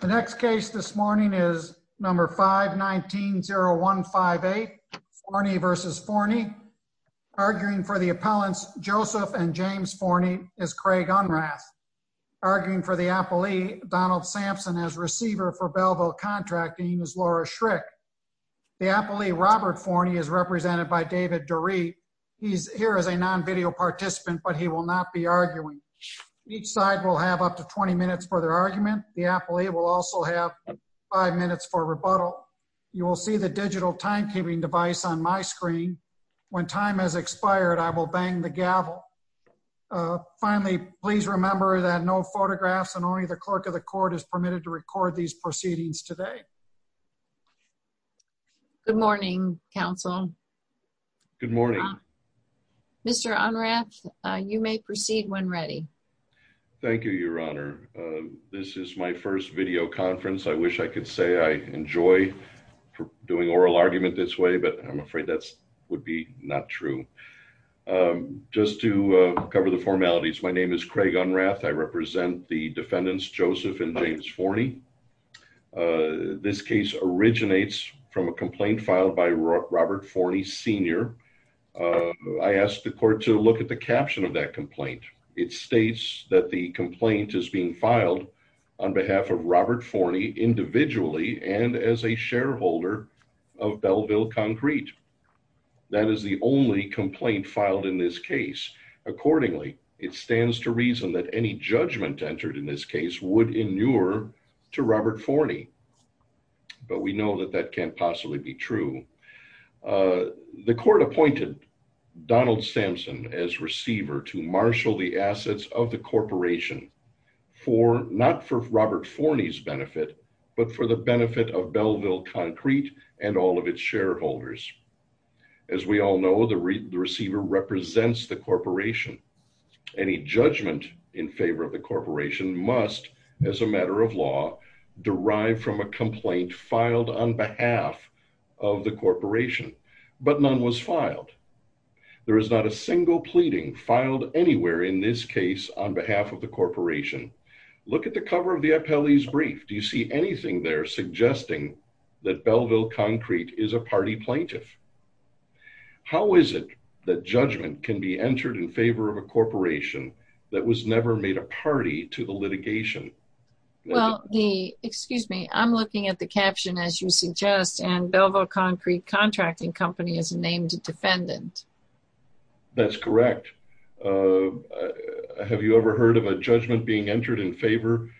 The next case this morning is number 519-0158. Fournie versus Fournie. Arguing for the appellants Joseph and James Fournie is Craig Unrath. Arguing for the appellee Donald Sampson as receiver for Belleville Contracting is Laura Schrick. The appellee Robert Fournie is represented by David Durie. He's here as a non-video participant but he will not be arguing. Each side will have up to 20 minutes for their argument. The appellee will also have five minutes for rebuttal. You will see the digital timekeeping device on my screen. When time has expired I will bang the gavel. Finally please remember that no photographs and only the clerk of the court is permitted to record these proceedings today. Good morning counsel. Good morning. Mr. Unrath you may proceed when ready. Thank you your honor. This is my first video conference. I wish I could say I enjoy doing oral argument this way but I'm afraid that would be not true. Just to cover the formalities my name is Craig Unrath. I represent the defendants Joseph and James Fournie. This case originates from a complaint filed by Robert Fournie Sr. I asked the court to look at the caption of that complaint. It states that the complaint is being filed on behalf of Robert Fournie individually and as a shareholder of Belleville Concrete. That is the only complaint filed in this case. Accordingly it stands to reason that any judgment entered in this case would inure to Robert Fournie but we know that that can't possibly be true. The court appointed Donald Sampson as receiver to marshal the assets of the corporation for not for Robert Fournie's benefit but for the benefit of Belleville Concrete and all of its shareholders. As we all know the receiver represents the corporation. Any judgment in favor of the corporation must as a matter of law derive from a complaint filed on behalf of the corporation but none was filed. There is not a single pleading filed anywhere in this case on behalf of the corporation. Look at the cover of the appellee's brief. Do you see anything there suggesting that Belleville Concrete is a party plaintiff? How is it that judgment can be entered in favor of a corporation that was never made a party to the litigation? Well the excuse me I'm looking at the caption as you suggest and Belleville Concrete Contracting Company is named a defendant. That's correct. Have you ever heard of a judgment being entered in favor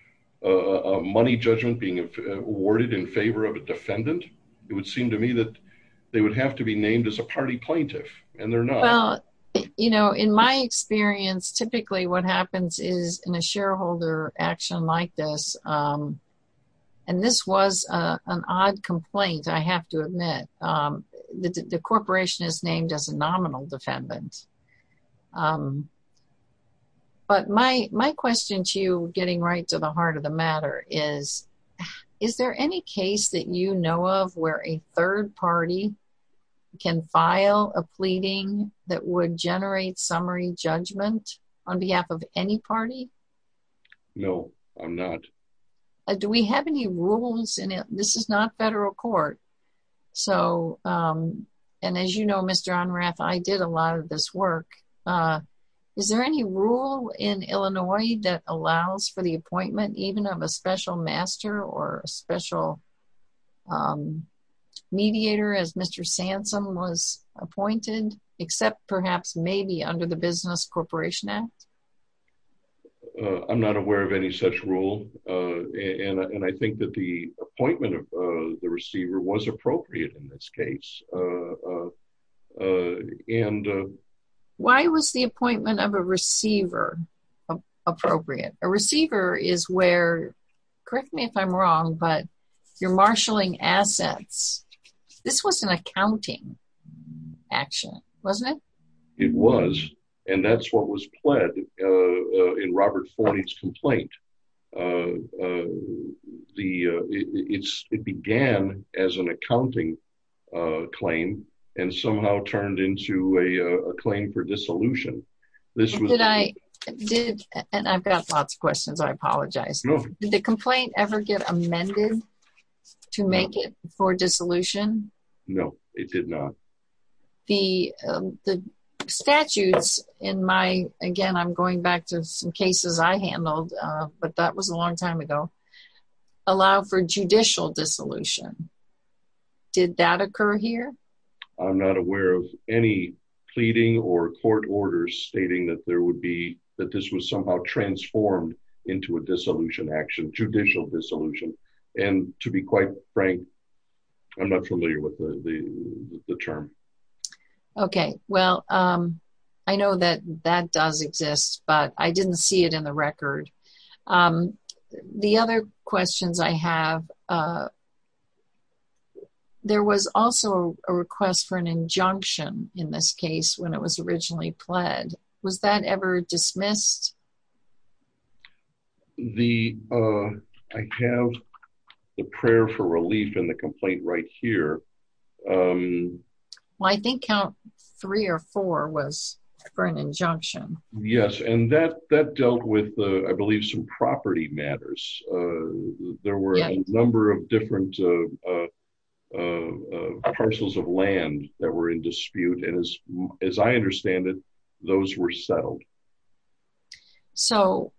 a money judgment being awarded in favor of a defendant? It would seem to me that they would have to be named as a party plaintiff and they're not. Well you know in my experience typically what happens is in a shareholder action like this and this was an odd complaint I have to admit. The corporation is named as a nominal defendant but my question to getting right to the heart of the matter is is there any case that you know of where a third party can file a pleading that would generate summary judgment on behalf of any party? No I'm not. Do we have any rules in it? This is not federal court so and as you know Mr. Unrath I did a lot of this work. Is there any rule in Illinois that allows for the appointment even of a special master or a special mediator as Mr. Sansom was appointed except perhaps maybe under the Business Corporation Act? I'm not aware of any such rule and I think that the appointment of the receiver was appropriate in this case. And why was the appointment of a receiver appropriate? A receiver is where, correct me if I'm wrong, but you're marshaling assets. This was an accounting action wasn't it? It was and that's what was pled in Robert Forney's complaint. It began as an accounting claim and somehow turned into a claim for dissolution. I've got lots of questions I apologize. Did the complaint ever get amended to make it for dissolution? No it did not. The statutes in my, again I'm going back to some but that was a long time ago, allow for judicial dissolution. Did that occur here? I'm not aware of any pleading or court orders stating that there would be that this was somehow transformed into a dissolution action, judicial dissolution. And to be quite frank I'm not familiar with the term. Okay well I know that that does exist but I didn't see it in the record. The other questions I have, there was also a request for an injunction in this case when it was originally pled. Was that ever dismissed? I have the prayer for relief in the complaint right here. Well I think count three or four was for an injunction. Yes and that that dealt with I believe some property matters. There were a number of different parcels of land that were in dispute and as I understand it those were settled. So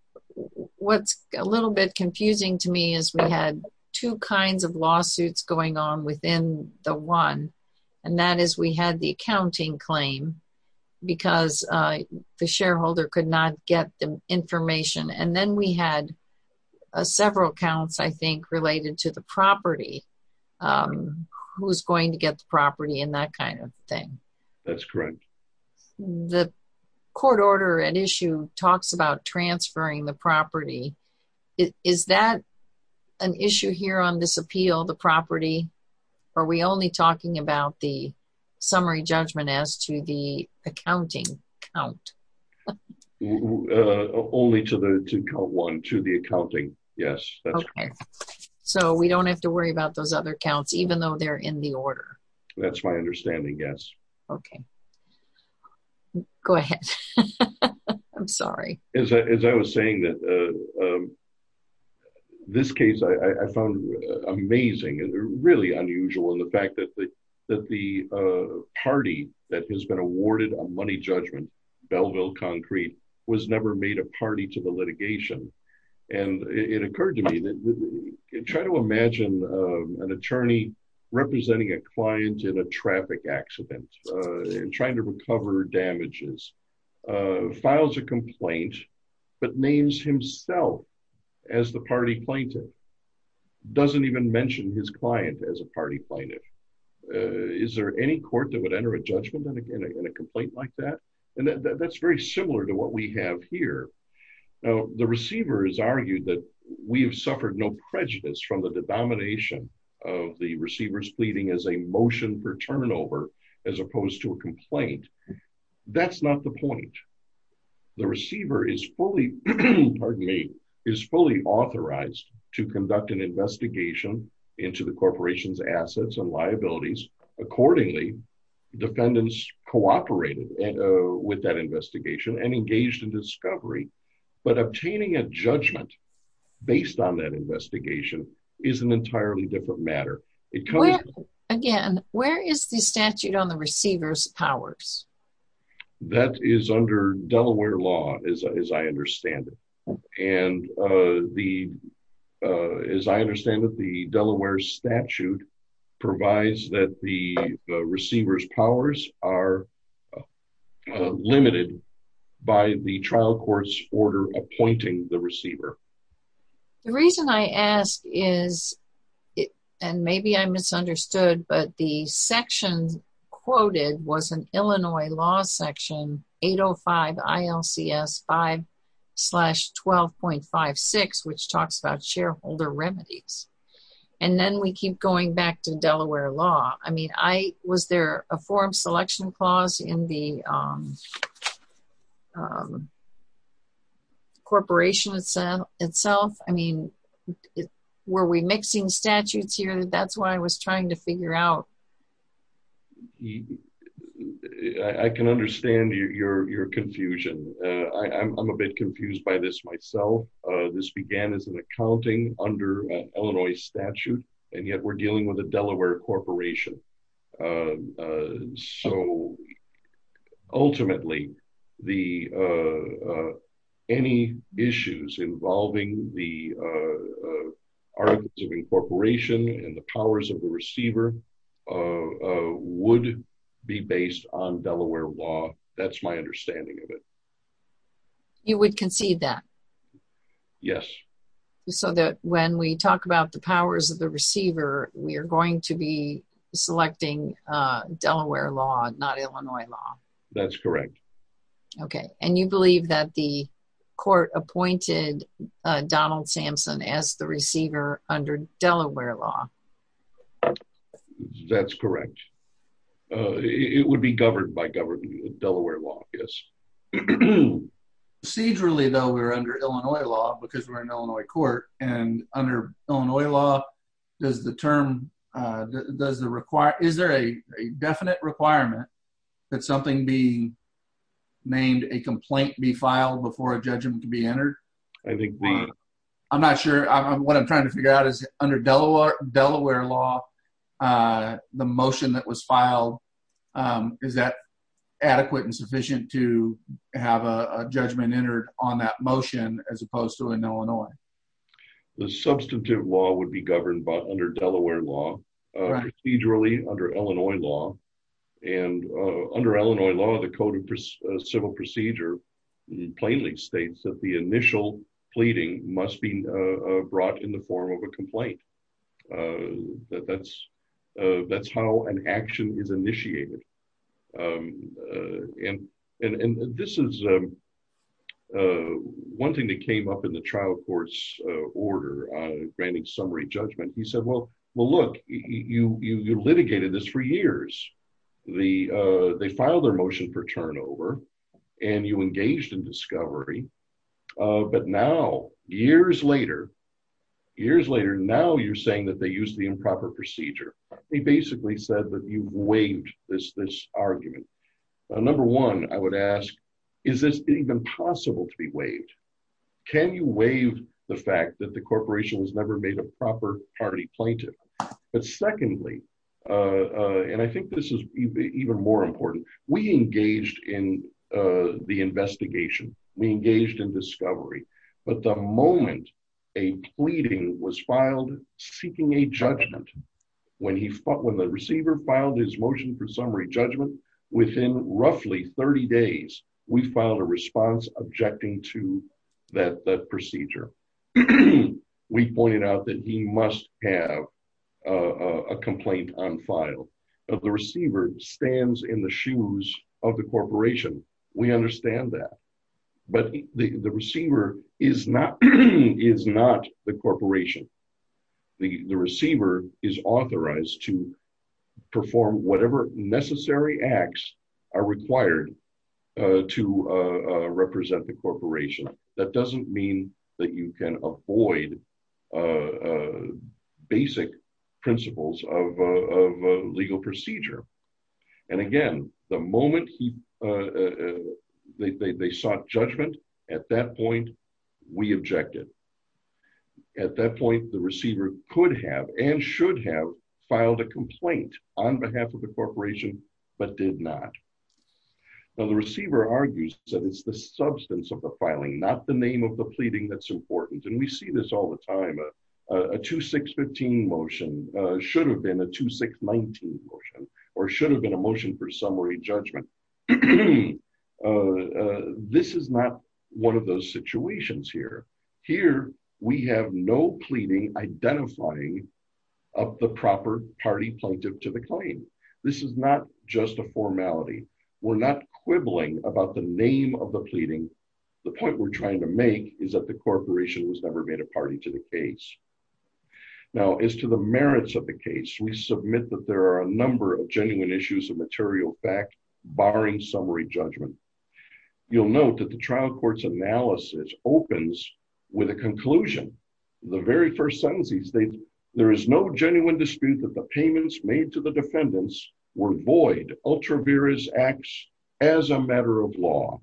what's a little bit confusing to me is we had two kinds of lawsuits going on within the one and that is we had the accounting claim because the shareholder could not get the information. And then we had several counts I think related to the property, who's going to get the property and that kind of thing. That's correct. The court order at issue talks about transferring the summary judgment as to the accounting count. Only to count one, to the accounting. Yes. So we don't have to worry about those other counts even though they're in the order. That's my understanding yes. Okay go ahead. I'm sorry. As I was saying that this case I found amazing and really unusual in the fact that the party that has been awarded a money judgment, Belleville Concrete, was never made a party to the litigation. And it occurred to me that try to imagine an attorney representing a client in a traffic accident and trying to recover damages, files a complaint but names himself as the party plaintiff. Doesn't even mention his client as a party plaintiff. Is there any court that would enter a judgment in a complaint like that? And that's very similar to what we have here. Now the receiver has argued that we have suffered no prejudice from the denomination of the receiver's pleading as a motion for turnover as opposed to a complaint. That's not the point. The receiver is fully, pardon me, is fully authorized to conduct an investigation into the corporation's assets and liabilities accordingly. Defendants cooperated with that investigation and engaged in discovery. But obtaining a judgment based on that investigation is an entirely different matter. Again, where is the statute on the receiver's powers? That is under Delaware law as I understand it. And as I understand it, the Delaware statute provides that the receiver's powers are limited by the trial court's order appointing the receiver. The reason I ask is, and maybe I misunderstood, but the section quoted was an Illinois law section 805 ILCS 5 slash 12.56 which talks about shareholder remedies. And then we keep going back to Delaware law. I mean, was there a form selection clause in the corporation itself? I mean, were we mixing statutes here? That's what I was trying to figure out. I can understand your confusion. I'm a bit confused by this myself. This began as an accounting under Illinois statute, and yet we're dealing with a Delaware corporation. So, ultimately, any issues involving the articles of incorporation and the powers of the receiver would be based on Delaware law. That's my understanding of it. You would concede that? Yes. So that when we talk about the powers of the receiver, we are going to be selecting Delaware law, not Illinois law? That's correct. Okay. And you believe that the court appointed Donald Sampson as the receiver under Delaware law? That's correct. It would be governed by Delaware law, yes. Procedurally, though, we're under Illinois law because we're an Illinois court. And under Illinois law, is there a definite requirement that something be named, a complaint be filed before a judgment to be entered? I'm not sure. What I'm trying to figure out is under Delaware law, the motion that was filed, is that adequate and sufficient to have a judgment entered on that motion as opposed to in Illinois? The substantive law would be governed under Delaware law, procedurally under Illinois law. And under Illinois law, the code of civil procedure plainly states that the initial pleading must be brought in the form of a complaint. That's how an action is initiated. And this is one thing that came up in the trial court's order on granting summary judgment. He said, well, look, you litigated this for years. They filed their motion for turnover, and you engaged in discovery. But now, years later, years later, now you're saying that they used the improper procedure. He basically said that you've waived this argument. Number one, I would ask, is this even possible to be waived? Can you waive the fact that the corporation has never made a proper party plaintiff? But secondly, and I think this is even more important, we engaged in the investigation. We engaged in discovery. But the moment a pleading was filed, seeking a judgment, when the receiver filed his motion for summary judgment, within roughly 30 days, we filed a response objecting to that procedure. We pointed out that he must have a complaint on file. The receiver stands in the shoes of the corporation. We understand that. But the receiver is not the corporation. The receiver is authorized to perform whatever necessary acts are required to represent the corporation. That doesn't mean that you can avoid the basic principles of a legal procedure. And again, the moment they sought judgment, at that point, we objected. At that point, the receiver could have and should have filed a complaint on behalf of the corporation, but did not. Now, the receiver argues that it's the substance of the filing, not the name of the pleading that's important. And we see this all the time. A 2615 motion should have been a 2619 motion or should have been a motion for summary judgment. This is not one of those situations here. Here, we have no pleading identifying of the proper party plaintiff to the claim. This is not just a formality. We're not quibbling about the name of the pleading. The point we're trying to make is that the corporation was never made a party to the case. Now, as to the merits of the case, we submit that there are a number of genuine issues of material fact, barring summary judgment. You'll note that the trial court's analysis opens with a conclusion. The very first sentences, there is no genuine dispute that payments made to the defendants were void, as a matter of law.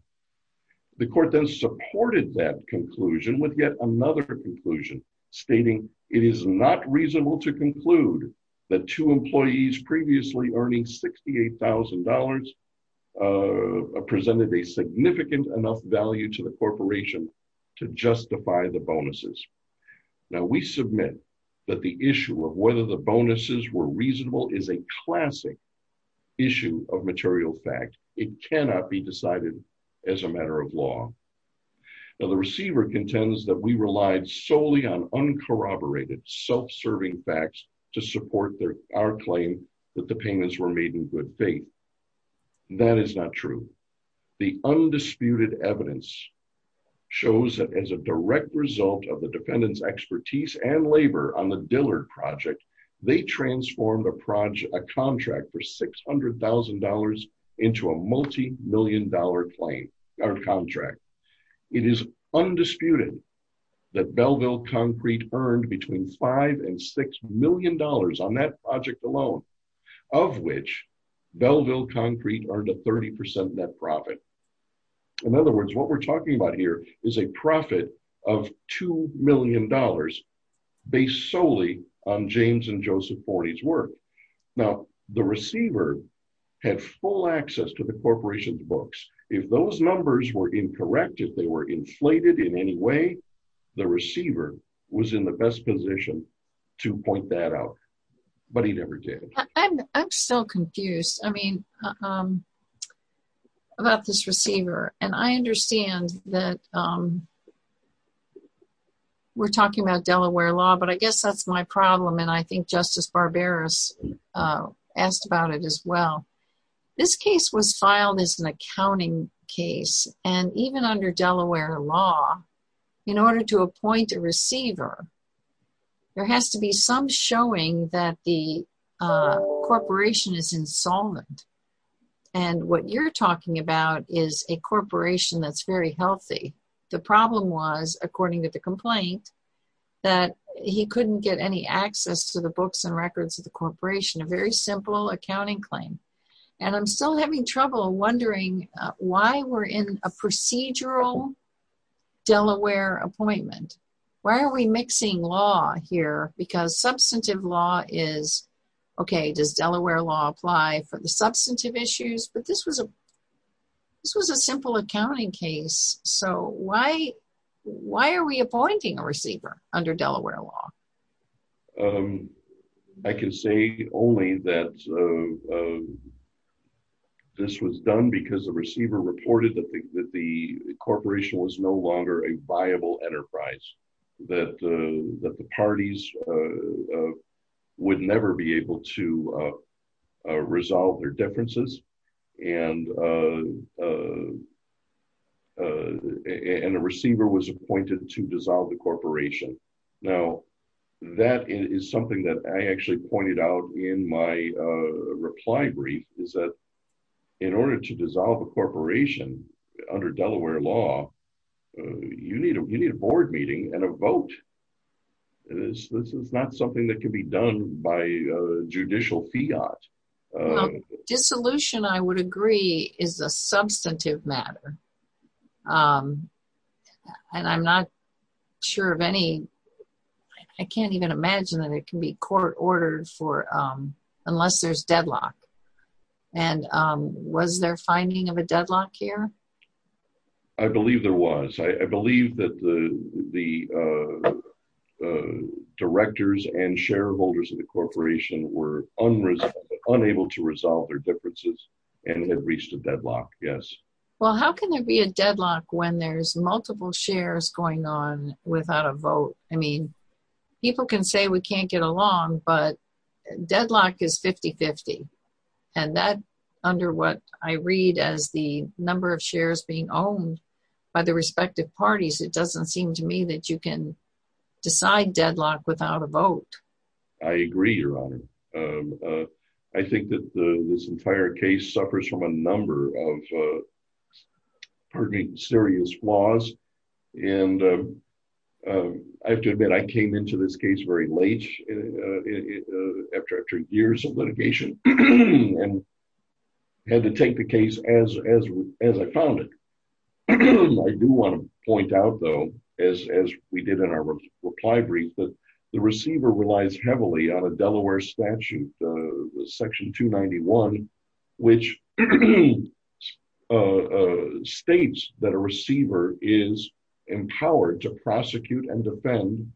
The court then supported that conclusion with yet another conclusion, stating it is not reasonable to conclude that two employees previously earning $68,000 presented a significant enough value to the corporation to justify the bonuses were reasonable is a classic issue of material fact. It cannot be decided as a matter of law. Now, the receiver contends that we relied solely on uncorroborated, self-serving facts to support our claim that the payments were made in good faith. That is not true. The undisputed evidence shows that as a direct result of the defendant's expertise and labor on the Dillard project, they transformed a contract for $600,000 into a multi-million dollar contract. It is undisputed that Belleville Concrete earned between five and six million dollars on that project alone, of which Belleville Concrete earned a 30% net profit. In other words, what we're on James and Joseph Forney's work. Now, the receiver had full access to the corporation's books. If those numbers were incorrect, if they were inflated in any way, the receiver was in the best position to point that out, but he never did. I'm still confused. I mean, about this receiver, and I understand that we're talking about Delaware law, but I guess that's my problem, and I think Justice Barberos asked about it as well. This case was filed as an accounting case, and even under Delaware law, in order to appoint a receiver, there has to be some showing that the corporation is insolvent, and what you're talking about is a corporation that's very healthy. The problem was, according to the complaint, that he couldn't get any access to the books and records of the corporation. A very simple accounting claim, and I'm still having trouble wondering why we're in a procedural Delaware appointment. Why are we mixing law here? Because substantive law is, okay, does Delaware law apply for the substantive issues? But this was a simple accounting case, so why are we appointing a receiver under Delaware law? I can say only that this was done because the receiver reported that the corporation was no longer a viable enterprise, that the parties would never be able to resolve their differences, and a receiver was appointed to dissolve the corporation. Now, that is something that I actually pointed out in my reply brief, is that in order to dissolve a corporation under Delaware law, you need a board meeting and a vote. This is not something that can be done by judicial fiat. Dissolution, I would agree, is a substantive matter, and I'm not sure of any, I can't even imagine that it can be court ordered for, unless there's deadlock. And was there finding of a deadlock here? I believe there was. I believe that the directors and shareholders of the corporation were unable to resolve their differences and had reached a deadlock, yes. Well, how can there be a deadlock when there's multiple shares going on without a vote? I mean, people can say we can't get along, but deadlock is 50-50. And that, under what I read as the number of shares being owned by the respective parties, it doesn't seem to me that you can decide deadlock without a vote. I agree, Your Honor. I think that this entire case suffers from a number of, pardon me, serious flaws. And I have to admit, I came into this as I found it. I do want to point out, though, as we did in our reply brief, that the receiver relies heavily on a Delaware statute, Section 291, which states that a receiver is empowered to prosecute and defend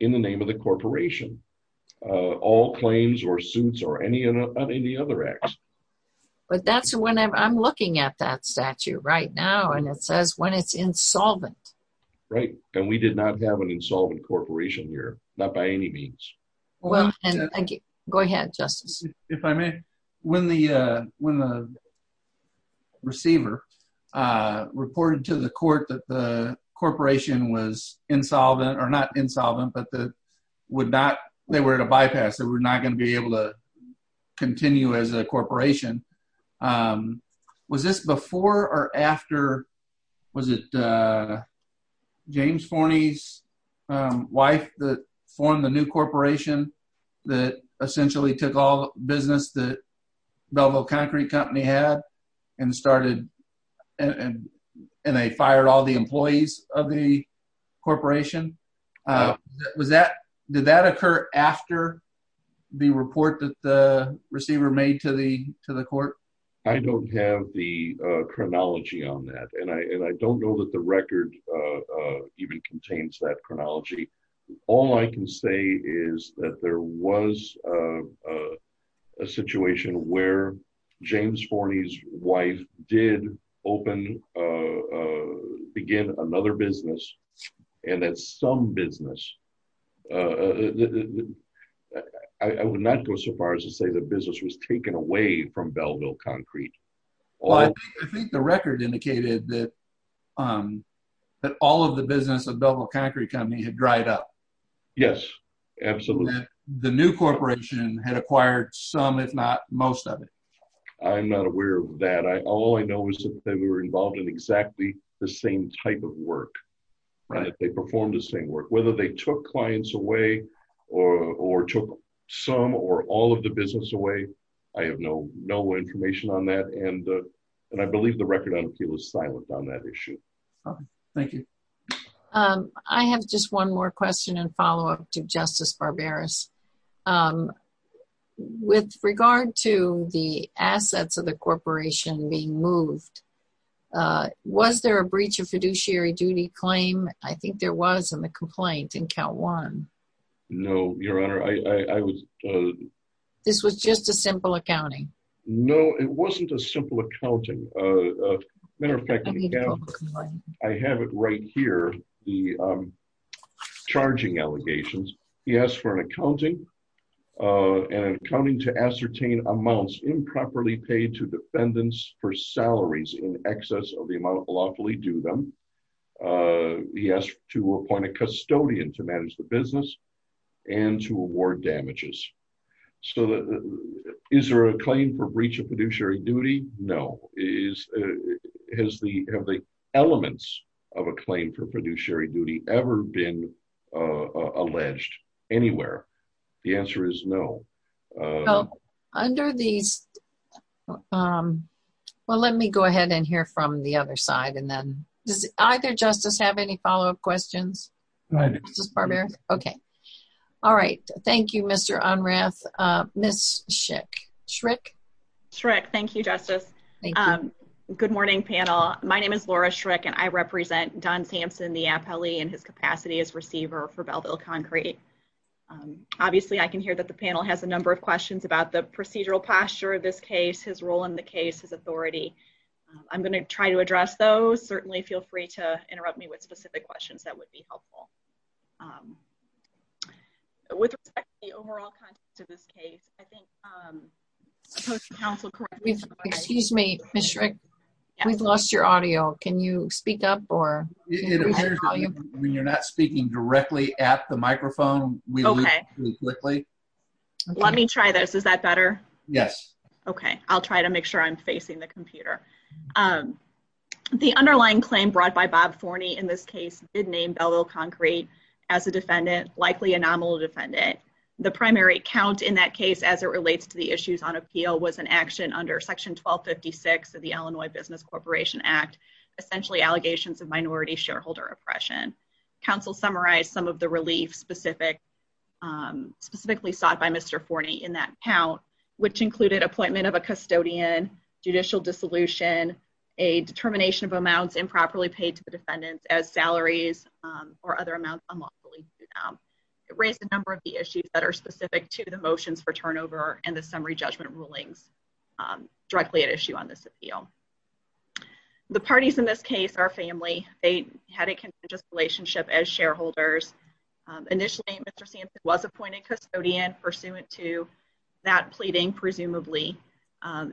in the name of the corporation, all claims or suits or any other acts. But that's when I'm looking at that statute right now, and it says when it's insolvent. Right. And we did not have an insolvent corporation here, not by any means. Well, thank you. Go ahead, Justice. If I may, when the receiver reported to the court that the corporation was insolvent, or not insolvent, but they were at a bypass, they were not going to be as a corporation, was this before or after, was it James Forney's wife that formed the new corporation that essentially took all the business that Belleville Concrete Company had and started, and they fired all the employees of the corporation? Did that occur after the report that the receiver made to the court? I don't have the chronology on that. And I don't know that the record even contains that chronology. All I can say is that there was a situation where James Forney's wife did open, begin another business. And that some business, I would not go so far as to say the business was taken away from Belleville Concrete. Well, I think the record indicated that all of the business of Belleville Concrete Company had dried up. Yes, absolutely. The new corporation had acquired some, if not most of it. I'm not aware of that. All I know is that they were involved in exactly the same type of work. They performed the same work, whether they took clients away or took some or all of the business away. I have no information on that. And I believe the record on appeal is silent on that issue. Thank you. I have just one more question and follow up to Justice Barberas. With regard to the assets of the corporation being moved, was there a breach of fiduciary duty claim? I think there was in the complaint in count one. No, Your Honor. This was just a simple accounting. No, it wasn't a simple accounting. Matter of fact, I have it right here, the charging allegations. He asked for an accounting to ascertain amounts improperly paid to defendants for salaries in excess of the amount lawfully due them. He asked to appoint a custodian to manage the business and to award damages. So, is there a claim for breach of fiduciary duty? No. Have the elements of a claim for fiduciary duty ever been alleged anywhere? The answer is no. Well, let me go ahead and hear from the other side. And then, does either justice have any follow-up questions? Justice Barberas? Okay. All right. Thank you, Mr. Unrath. Ms. Schrick? Thank you, Justice. Good morning, panel. My name is Laura Schrick, and I represent Don Sampson, the appellee, and his capacity as receiver for Belleville Concrete. Obviously, I can hear that the panel has a number of questions about the procedural posture of this case, his role in the case, his authority. I'm going to try to address those. Certainly, feel free to interrupt me with specific questions that would be helpful. With respect to the overall context of this case, I think, excuse me, Ms. Schrick, we've lost your audio. Can you speak up? It appears when you're not speaking directly at the microphone, we lose you quickly. Let me try this. Is that better? Yes. Okay. I'll try to make sure I'm facing the computer. The underlying claim brought by Bob Forney in this case did name Belleville Concrete as a defendant, likely a nominal defendant. The primary count in that case as it relates to the issues on appeal was an action under Section 1256 of the Illinois Business Corporation Act, essentially allegations of minority shareholder oppression. Counsel summarized some of the relief specifically sought by Mr. Forney in that count, which included appointment of a custodian, judicial dissolution, a determination of amounts improperly paid to the defendants as salaries, or other amounts unlawfully paid to them. It raised a number of the issues that are specific to the motions for turnover and the summary judgment rulings directly at issue on this appeal. The parties in this case are family. They had a contiguous relationship as shareholders. Initially, Mr. Sampson was appointed custodian pursuant to that pleading, presumably.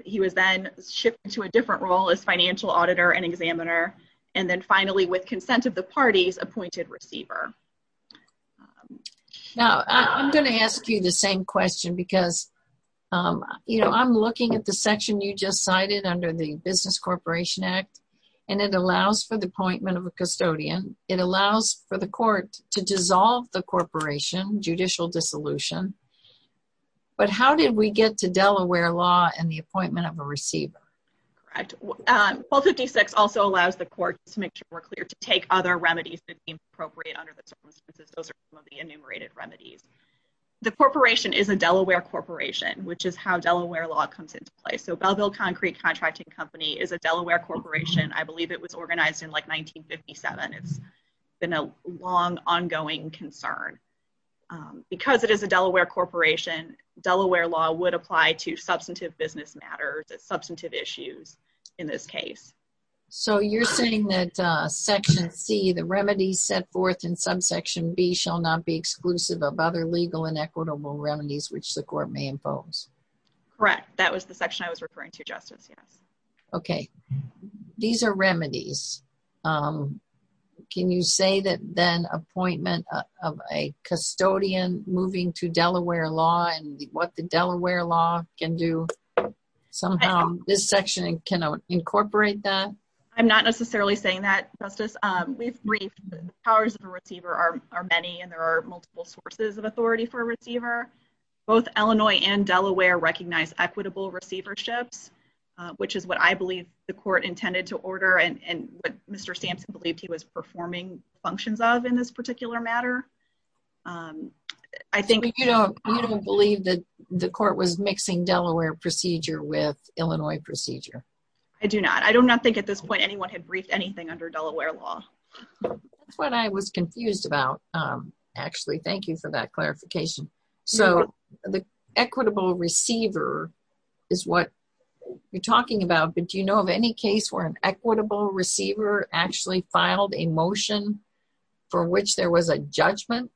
He was then shifted to a different role as financial auditor and examiner. And then finally, with consent of the parties, appointed receiver. Now, I'm going to ask you the same question because, you know, I'm looking at the section you just cited under the Business Corporation Act, and it allows for the appointment of a custodian. It allows for the court to dissolve the corporation, judicial dissolution. But how did we get to Delaware law and the appointment of a receiver? Correct. 1256 also allows the court to make sure we're clear to take other remedies that those are the enumerated remedies. The corporation is a Delaware corporation, which is how Delaware law comes into play. So Belleville Concrete Contracting Company is a Delaware corporation. I believe it was organized in like 1957. It's been a long, ongoing concern. Because it is a Delaware corporation, Delaware law would apply to substantive business matters, substantive issues in this case. So you're saying that Section C, the remedies set forth in subsection B shall not be exclusive of other legal and equitable remedies, which the court may impose? Correct. That was the section I was referring to justice. Yes. Okay. These are remedies. Can you say that then appointment of a custodian moving to Delaware law and what the Delaware law can do? Somehow, this section cannot incorporate that. I'm not necessarily saying that justice. We've briefed powers of a receiver are many and there are multiple sources of authority for a receiver. Both Illinois and Delaware recognize equitable receiverships, which is what I believe the court intended to order and what Mr. Sampson believed was performing functions of in this particular matter. I think you don't believe that the court was mixing Delaware procedure with Illinois procedure. I do not. I do not think at this point anyone had briefed anything under Delaware law. That's what I was confused about. Actually, thank you for that clarification. So the equitable receiver is what you're talking about. But do you a motion for which there was a judgment?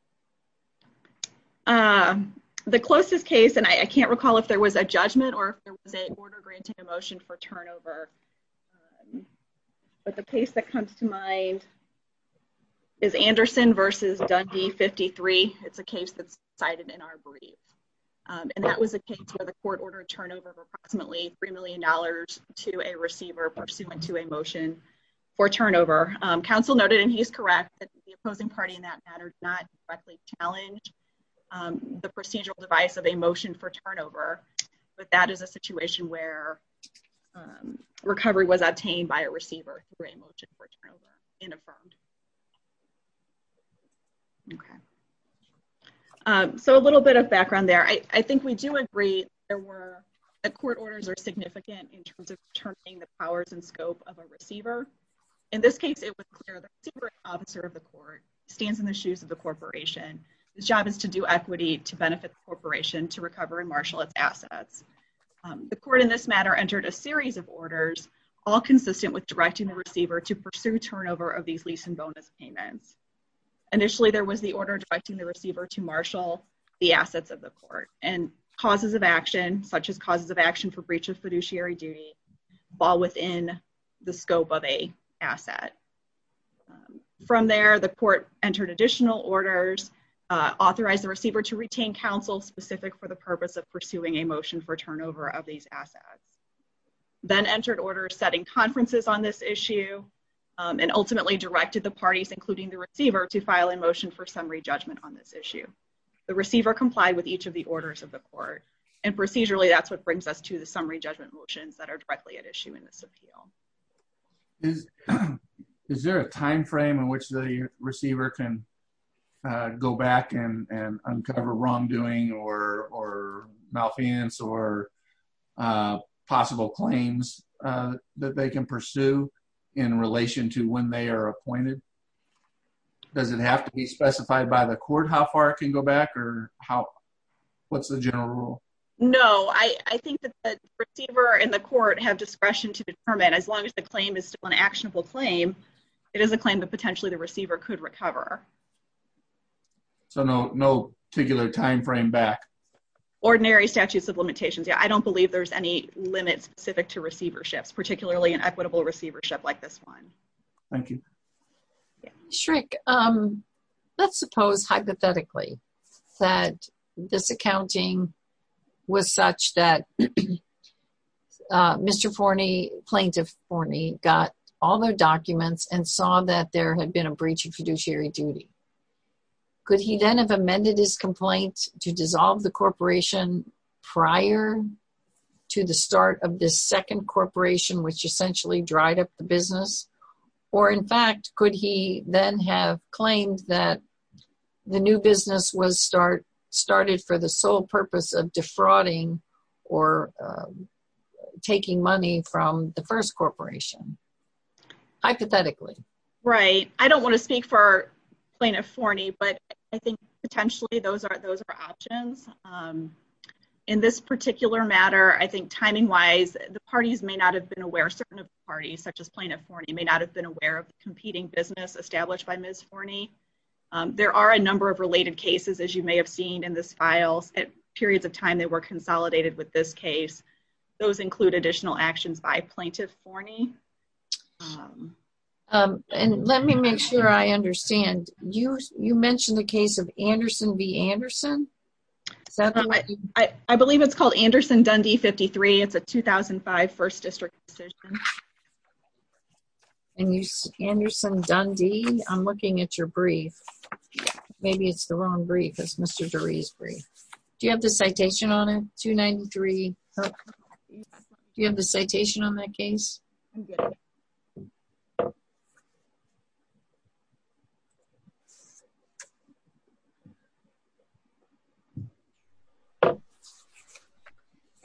The closest case, and I can't recall if there was a judgment or there was a order granting a motion for turnover. But the case that comes to mind is Anderson versus Dundee 53. It's a case that's cited in our brief. And that was a case where the court ordered turnover of approximately $3 million to a receiver pursuant to a motion for turnover. Counsel noted, and he's correct, that the opposing party in that matter, not directly challenge the procedural device of a motion for turnover. But that is a situation where recovery was obtained by a receiver. Okay. So a little bit of background there. I think we do agree that court orders are significant in terms of determining the powers and scope of a receiver. In this case, it was clear the receiver and officer of the court stands in the shoes of the corporation. His job is to do equity to benefit the corporation to recover and marshal its assets. The court in this matter entered a series of orders, all consistent with directing the receiver to pursue turnover of these lease and bonus payments. Initially, there was the order directing the receiver to marshal the assets of the court and causes of action such as causes of action for breach of fiduciary duty fall within the scope of a asset. From there, the court entered additional orders, authorized the receiver to retain counsel specific for the purpose of pursuing a motion for turnover of these assets. Then entered orders setting conferences on this issue and ultimately directed the parties including the receiver to file a motion for summary judgment on this issue. The receiver complied with each of the orders of the court and procedurally that's what brings us to the summary judgment motions that are directly at issue in this appeal. Is there a time frame in which the receiver can go back and uncover wrongdoing or malfeasance or possible claims that they can pursue in relation to when they are appointed? Does it have to be specified by the court how far it can go back or what's the general rule? No, I think that the receiver and the court have discretion to determine as long as the claim is still an actionable claim, it is a claim that potentially the receiver could recover. So, no particular time frame back? Ordinary statutes of limitations. Yeah, I don't believe there's any limit specific to receiverships, particularly an equitable receivership like this one. Thank you. Shrek, let's suppose hypothetically that this accounting was such that Mr. Forney, Plaintiff Forney got all their documents and saw that there had been a breach of fiduciary duty. Could he then have amended his complaint to dissolve the corporation prior to the start of this second corporation, which essentially dried up the business? Or in fact, could he then have claimed that the new business was started for the sole purpose of defrauding or taking money from the first corporation? Hypothetically. Right. I don't want to speak for Plaintiff Forney, but I think potentially those are options. In this particular matter, I think timing wise, the parties may not have been aware, certain parties such as Plaintiff Forney may not have been aware of the competing business established by Ms. Forney. There are a number of related cases, as you may have seen in this file, at periods of time they were consolidated with this case. Those include additional actions by Let me make sure I understand. You mentioned the case of Anderson v. Anderson. I believe it's called Anderson-Dundee 53. It's a 2005 first district decision. And you said Anderson-Dundee. I'm looking at your brief. Maybe it's the wrong brief. It's Mr. Dury's brief. Do you have the citation on it? 293. Do you have the citation on that case? No.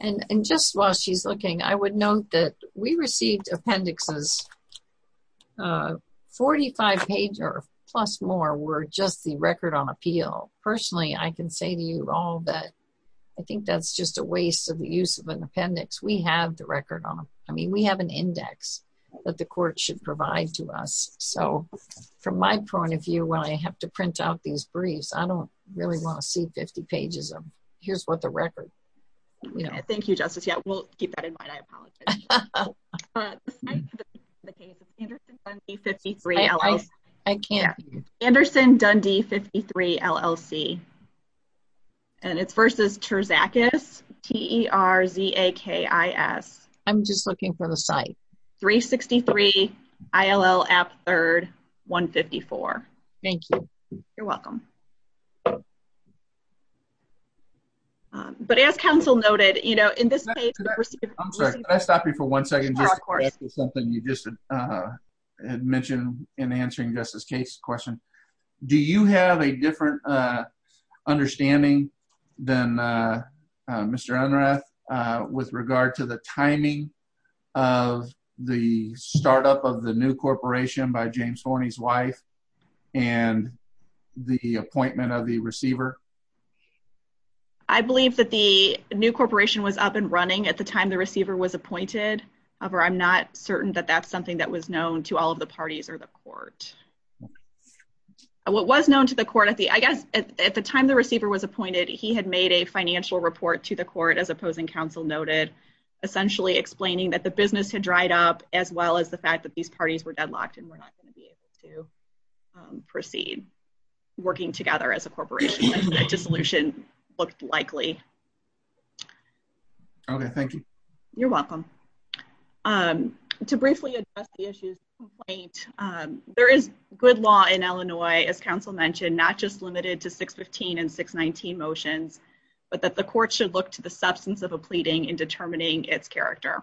And just while she's looking, I would note that we received appendixes. Forty-five pages plus more were just the record on appeal. Personally, I can say to you all that I think that's just a waste of the use of an appendix. We have the record on them. I mean, we have an index that the court should provide to us. So from my point of view, when I have to print out these briefs, I don't really want to see 50 pages of here's what the record. Thank you, Justice. Yeah, we'll keep that in mind. I apologize. I can't. Anderson-Dundee 53 LLC. And it's versus Terzakis. Terzakis. I'm just looking for the site. 363 ILL app third 154. Thank you. You're welcome. But as counsel noted, you know, in this case, I'm sorry, I stopped you for one second. Something you just mentioned in answering Justice case question. Do you have a different understanding than Mr. Unruh with regard to the timing of the startup of the new corporation by James Horny's wife and the appointment of the receiver? I believe that the new corporation was up and running at the time the receiver was appointed. However, I'm not certain that that's something that was known to all of the parties or the court. What was known to the court I guess, at the time the receiver was appointed, he had made a financial report to the court as opposing counsel noted, essentially explaining that the business had dried up, as well as the fact that these parties were deadlocked, and we're not going to be able to proceed working together as a corporation dissolution looked likely. Okay, thank you. You're welcome. To briefly address the issues, right? There is good law in Illinois, as counsel mentioned, not just limited to 615 and 619 motions, but that the court should look to the substance of a pleading in determining its character.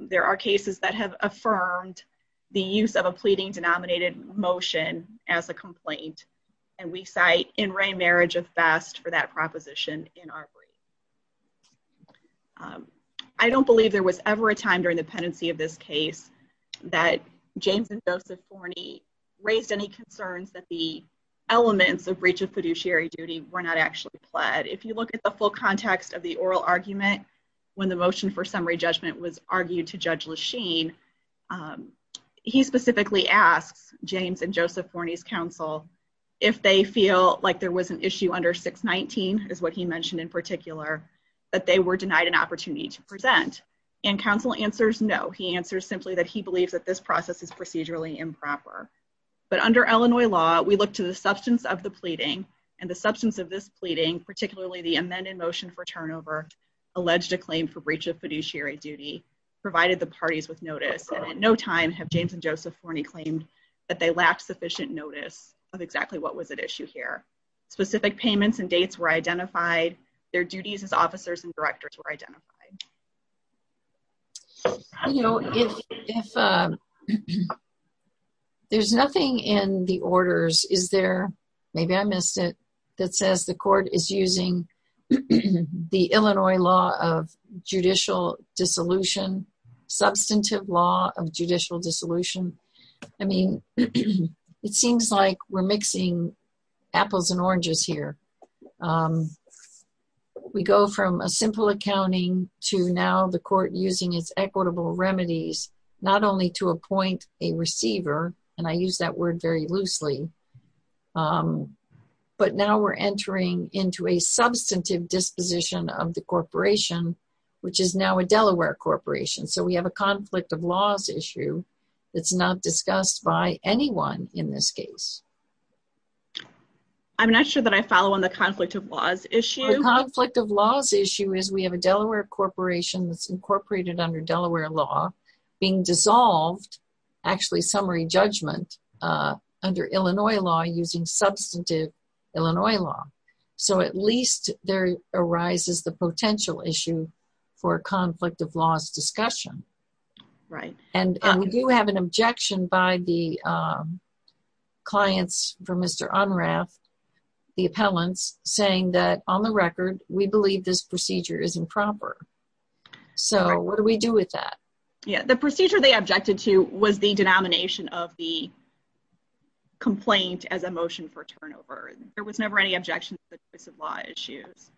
There are cases that have affirmed the use of a pleading denominated motion as a complaint. And we cite in re marriage of fast for that proposition in our brief. I don't believe there was ever a time during the pendency of this case that James and Joseph Forney raised any concerns that the elements of breach of fiduciary duty were not actually pled. If you look at the full context of the oral argument, when the motion for summary judgment was argued to Judge Lachine, he specifically asks James and Joseph Forney's counsel, if they feel like there was an issue under 619 is what he mentioned in particular, that they were denied an opportunity to present and counsel answers. No, he answers simply that he believes that this process is procedurally improper. But under Illinois law, we look to the substance of the pleading and the substance of this pleading, particularly the amended motion for turnover, alleged a claim for breach of fiduciary duty provided the parties with notice. And at no time have James and Joseph Forney claimed that they lacked sufficient notice of exactly what was at issue here. Specific payments and dates were identified. Their duties as officers and directors were identified. If there's nothing in the orders, is there, maybe I missed it, that says the court is using the Illinois law of judicial dissolution, substantive law of judicial dissolution. I mean, it seems like we're mixing apples and oranges here. We go from a simple accounting to now the court using its equitable remedies, not only to appoint a receiver, and I use that word very loosely, but now we're entering into a substantive disposition of the corporation, which is now a Delaware corporation. So we have a conflict of laws issue that's not discussed by anyone in this case. I'm not sure that I follow on the conflict of laws issue. The conflict of laws issue is we have a Delaware corporation that's incorporated under Delaware law being dissolved, actually summary judgment, under Illinois law using substantive Illinois law. So at least there arises the potential issue for a conflict of laws discussion. And we do have an objection by the clients for Mr. Unrath, the appellants, saying that on the record, we believe this procedure is improper. So what do we do with that? Yeah, the procedure they objected to was the denomination of the complaint as a motion for turnover. There was never any objection to the choice of law issues.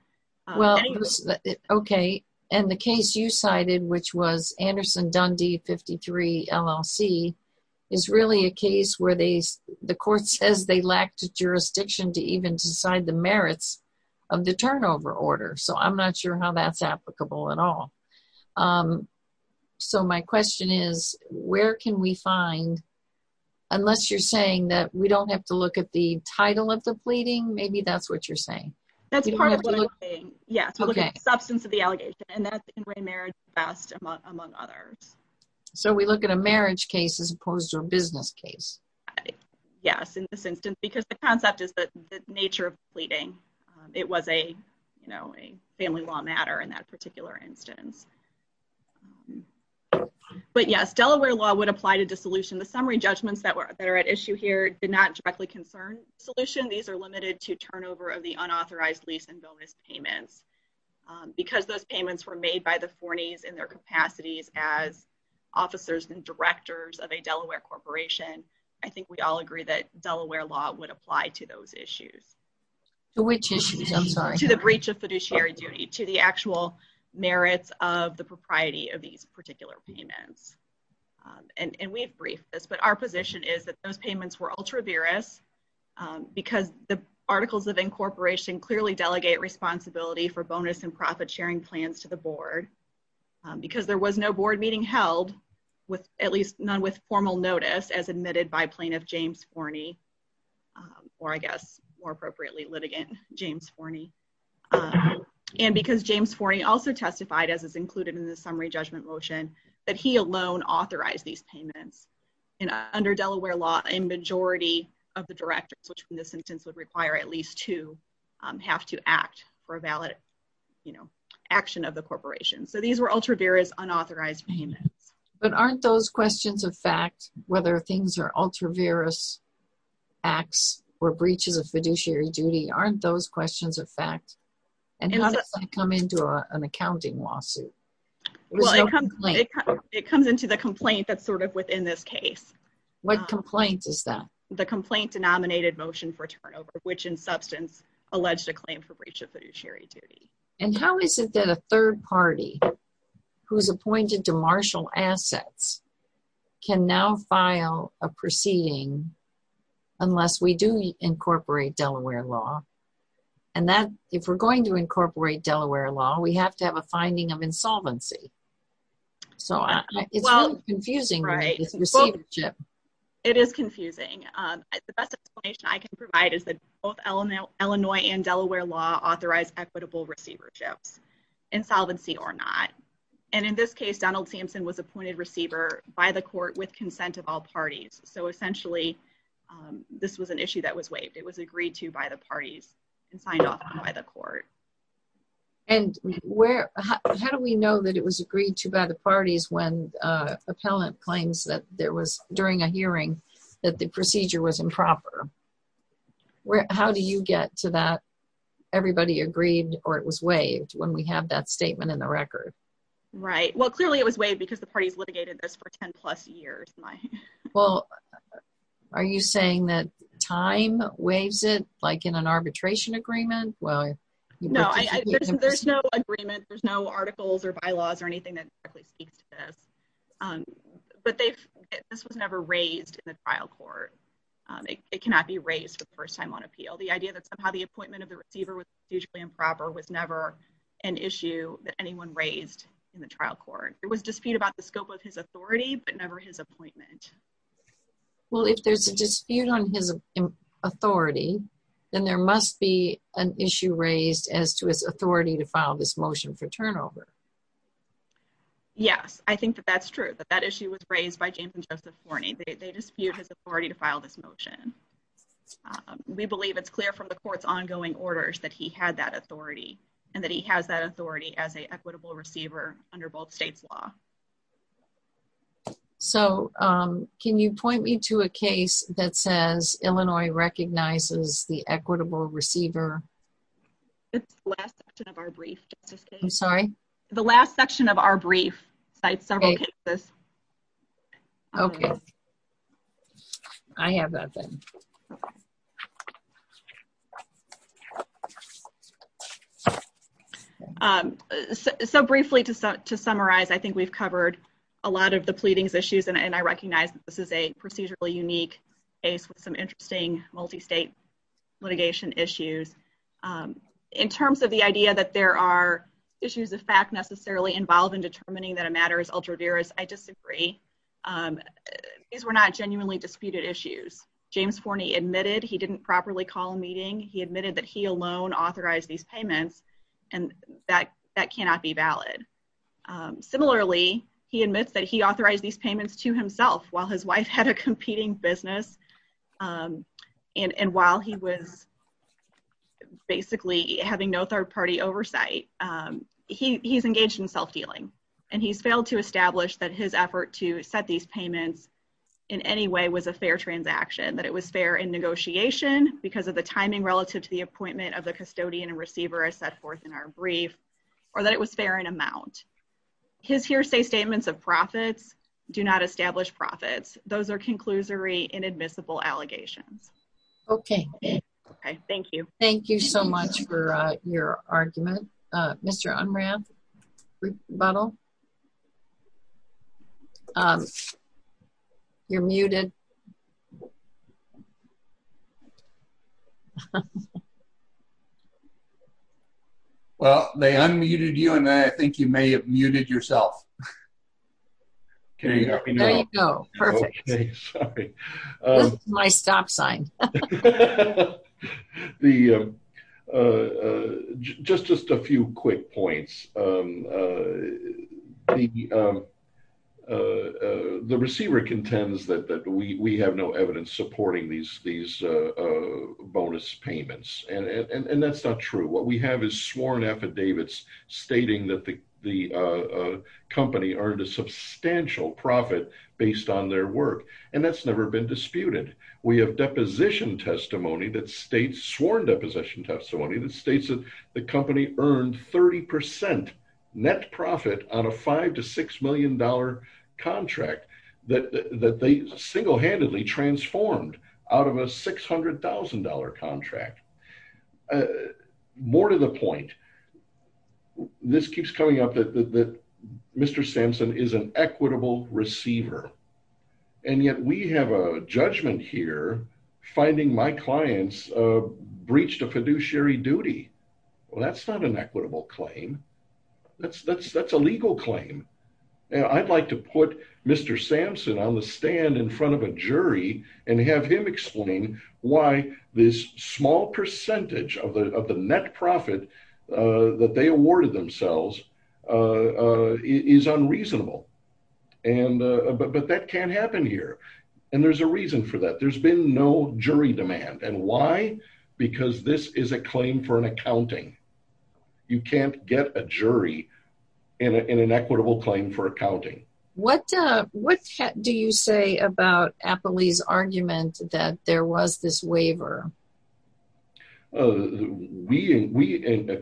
Well, okay. And the case you cited, which was Anderson Dundee 53 LLC, is really a case where the court says they lacked jurisdiction to even decide the merits of the turnover order. So I'm not sure how that's applicable at all. So my question is, where can we find, unless you're saying that we don't have to look at the title of the pleading, maybe that's what you're saying. That's part of what I'm saying. Yes, we're looking at the substance of the allegation and that's in re marriage best among others. So we look at a marriage case as opposed to a business case. Yes, in this instance, because the concept is that the nature of pleading, it was a, you know, a family law matter in that particular instance. But yes, Delaware law would apply to dissolution. The summary judgments that were that are at issue here did not directly concern solution. These are limited to turnover of the unauthorized lease and bonus payments because those payments were made by the four knees in their capacities as officers and directors of a Delaware corporation. I think we all agree that Delaware law would apply to those issues, which issues I'm sorry, to the breach of fiduciary duty, to the actual merits of the propriety of these particular payments. And we've briefed this, but our position is that those payments were ultra virus because the articles of incorporation clearly delegate responsibility for bonus and profit sharing plans to the board because there was no board meeting held with at least none with formal notice as admitted by plaintiff James Forney, or I guess, more appropriately litigant James Forney. And because James Forney also testified as is included in the summary judgment motion, that he alone authorized these payments. And under Delaware law, a majority of the directors, which in this instance would require at least two, have to act for a valid, you know, action of the corporation. So these were ultra virus unauthorized payments. But aren't those questions of fact, whether things are ultra virus, acts or breaches of fiduciary duty, aren't those questions of fact, and how does that come into an accounting lawsuit? It comes into the complaint that's sort of within this case. What complaint is that? The complaint denominated motion for turnover, which in substance, alleged a claim for breach of fiduciary duty. And how is it that a third party who's appointed to marshal assets can now file a proceeding unless we do incorporate Delaware law? And that if we're going to incorporate Delaware law, we have to have a finding of insolvency. So it's confusing, right? It is confusing. The best explanation I can provide is that both Illinois and Delaware law authorized equitable receiverships, insolvency or not. And in this case, Donald of all parties. So essentially, this was an issue that was waived. It was agreed to by the parties and signed off by the court. And where, how do we know that it was agreed to by the parties when appellant claims that there was during a hearing that the procedure was improper? How do you get to that? Everybody agreed or it was waived when we have that statement in the record? Right? Well, clearly it was waived because the parties litigated this for 10 plus years. Well, are you saying that time waves it like in an arbitration agreement? Well, no, there's no agreement. There's no articles or bylaws or anything that speaks to this. But they've, this was never raised in the trial court. It cannot be raised for the first time on appeal. The idea that somehow the appointment of the receiver was usually improper was never an issue that anyone raised in the trial court. It was dispute about the scope of his authority, but never his appointment. Well, if there's a dispute on his authority, then there must be an issue raised as to his authority to file this motion for turnover. Yes, I think that that's true, that that issue was raised by James and Joseph Forney. They dispute his authority to file this motion. We believe it's clear from the court's ongoing orders that he had that authority, and that he has that authority as an equitable receiver under both states' law. So, can you point me to a case that says Illinois recognizes the equitable receiver? It's the last section of our brief. I'm sorry? The last section of our brief cites several cases. Okay. I have that then. So, briefly, to summarize, I think we've covered a lot of the pleadings issues, and I recognize that this is a procedurally unique case with some interesting multi-state litigation issues. In terms of the idea that there are issues of fact necessarily involved in determining that a matter is ultra-virus, I disagree. These were not genuinely disputed issues. James Forney admitted he didn't properly call a meeting. He admitted that he alone authorized these payments, and that cannot be valid. Similarly, he admits that he authorized these payments to himself while his wife had a competing business, and while he was basically having no third-party oversight. He's engaged in self-dealing, and he's failed to establish that his effort to set these payments in any way was a fair transaction, that it was fair in negotiation because of the timing relative to the appointment of the custodian and receiver, as set forth in our brief, or that it was fair in amount. His hearsay statements of profits do not establish profits. Those are conclusory, inadmissible allegations. Okay. Okay. Thank you. Thank you so much for your argument. Mr. Unran, rebuttal? You're muted. Well, they unmuted you, and I think you may have muted yourself. Can you hear me now? There you go. Perfect. Okay. Sorry. This is my stop sign. Okay. Just a few quick points. The receiver contends that we have no evidence supporting these bonus payments, and that's not true. What we have is sworn affidavits stating that the company earned a substantial profit based on their work, and that's never been disputed. We have sworn deposition testimony that states that the company earned 30% net profit on a $5 million to $6 million contract that they single-handedly transformed out of a $600,000 contract. More to the point, this keeps coming up that Mr. Sampson is an equitable receiver, and yet we have a judgment here finding my clients breached a fiduciary duty. Well, that's not an equitable claim. That's a legal claim. I'd like to put Mr. Sampson on the of the net profit that they awarded themselves is unreasonable, but that can't happen here. There's a reason for that. There's been no jury demand. Why? Because this is a claim for an accounting. You can't get a jury in an equitable claim for accounting. What do you say about Appley's argument that there was this waiver? We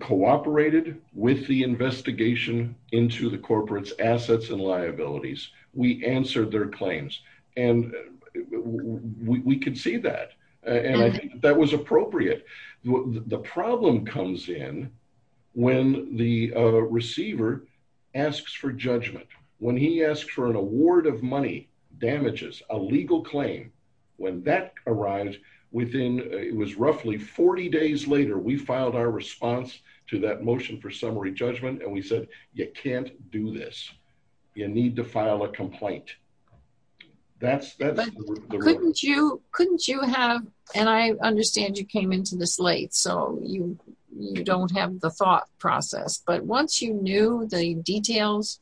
cooperated with the investigation into the corporate's assets and liabilities. We answered their claims, and we could see that, and I think that was appropriate. The problem comes in when the receiver asks for judgment. When he asks for an award of money, damages, a legal claim, when that arrives within, it was roughly 40 days later, we filed our response to that motion for summary judgment, and we said, you can't do this. You need to file a complaint. Couldn't you have, and I understand you came into this late, so you don't have the thought process, but once you knew the details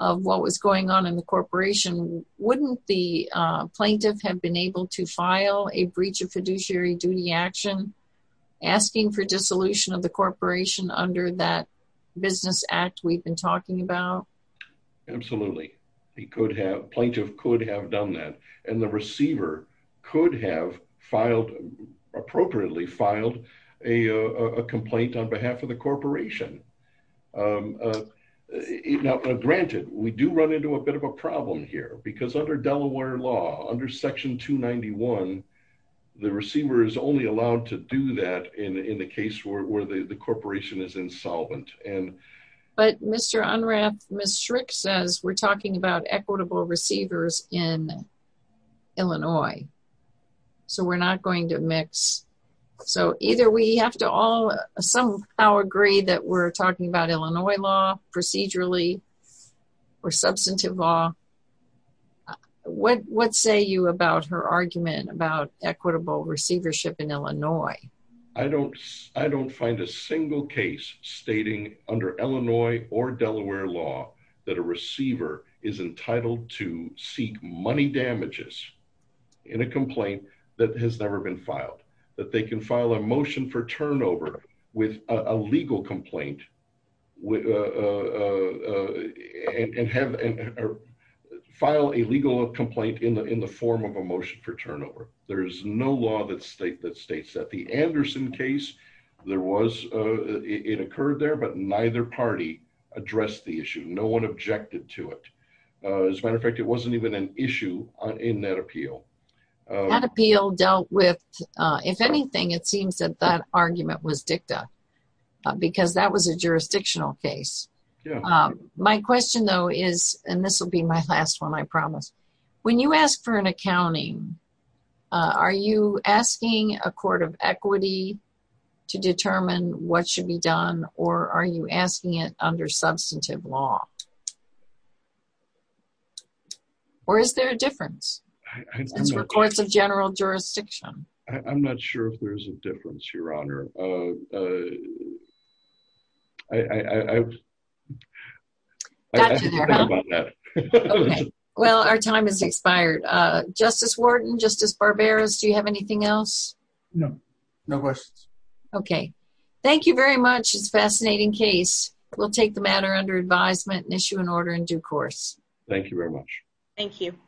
of what was going on in the corporation, wouldn't the plaintiff have been able to file a breach of fiduciary duty action asking for dissolution of the corporation under that business act we've been talking about? Absolutely. He could have, plaintiff could have done that, and the receiver could have filed, appropriately filed, a complaint on behalf of the corporation. Now, granted, we do run into a bit of a problem here, because under Delaware law, under section 291, the receiver is only allowed to do that in the case where the corporation is insolvent. But Mr. Unrath, Ms. Strick says we're talking about equitable receivers in Illinois, so we're not going to mix. So either we have to all somehow agree that we're talking about Illinois law procedurally or substantive law. What say you about her argument about equitable receivership in Illinois? I don't find a single case stating under Illinois or Delaware law that a receiver is entitled to seek money damages in a complaint that has never been filed, that they can file a motion for turnover with a legal complaint and file a legal complaint in the form of a motion for turnover. There is no law that states that. The Anderson case, it occurred there, but neither party addressed the issue. No one objected to it. As a matter of fact, it wasn't even an issue in that appeal. That appeal dealt with, if anything, it seems that that argument was dicta, because that was a jurisdictional case. My question, though, is, and this will be my last one, I promise, when you ask for an accounting, are you asking a court of equity to determine what substantive law? Or is there a difference for courts of general jurisdiction? I'm not sure if there's a difference, Your Honor. Well, our time has expired. Justice Wharton, Justice Barberos, do you have anything else? No. No questions. Okay. Thank you very much. It's a fascinating case. We'll take the matter under advisement and issue an order in due course. Thank you very much. Thank you.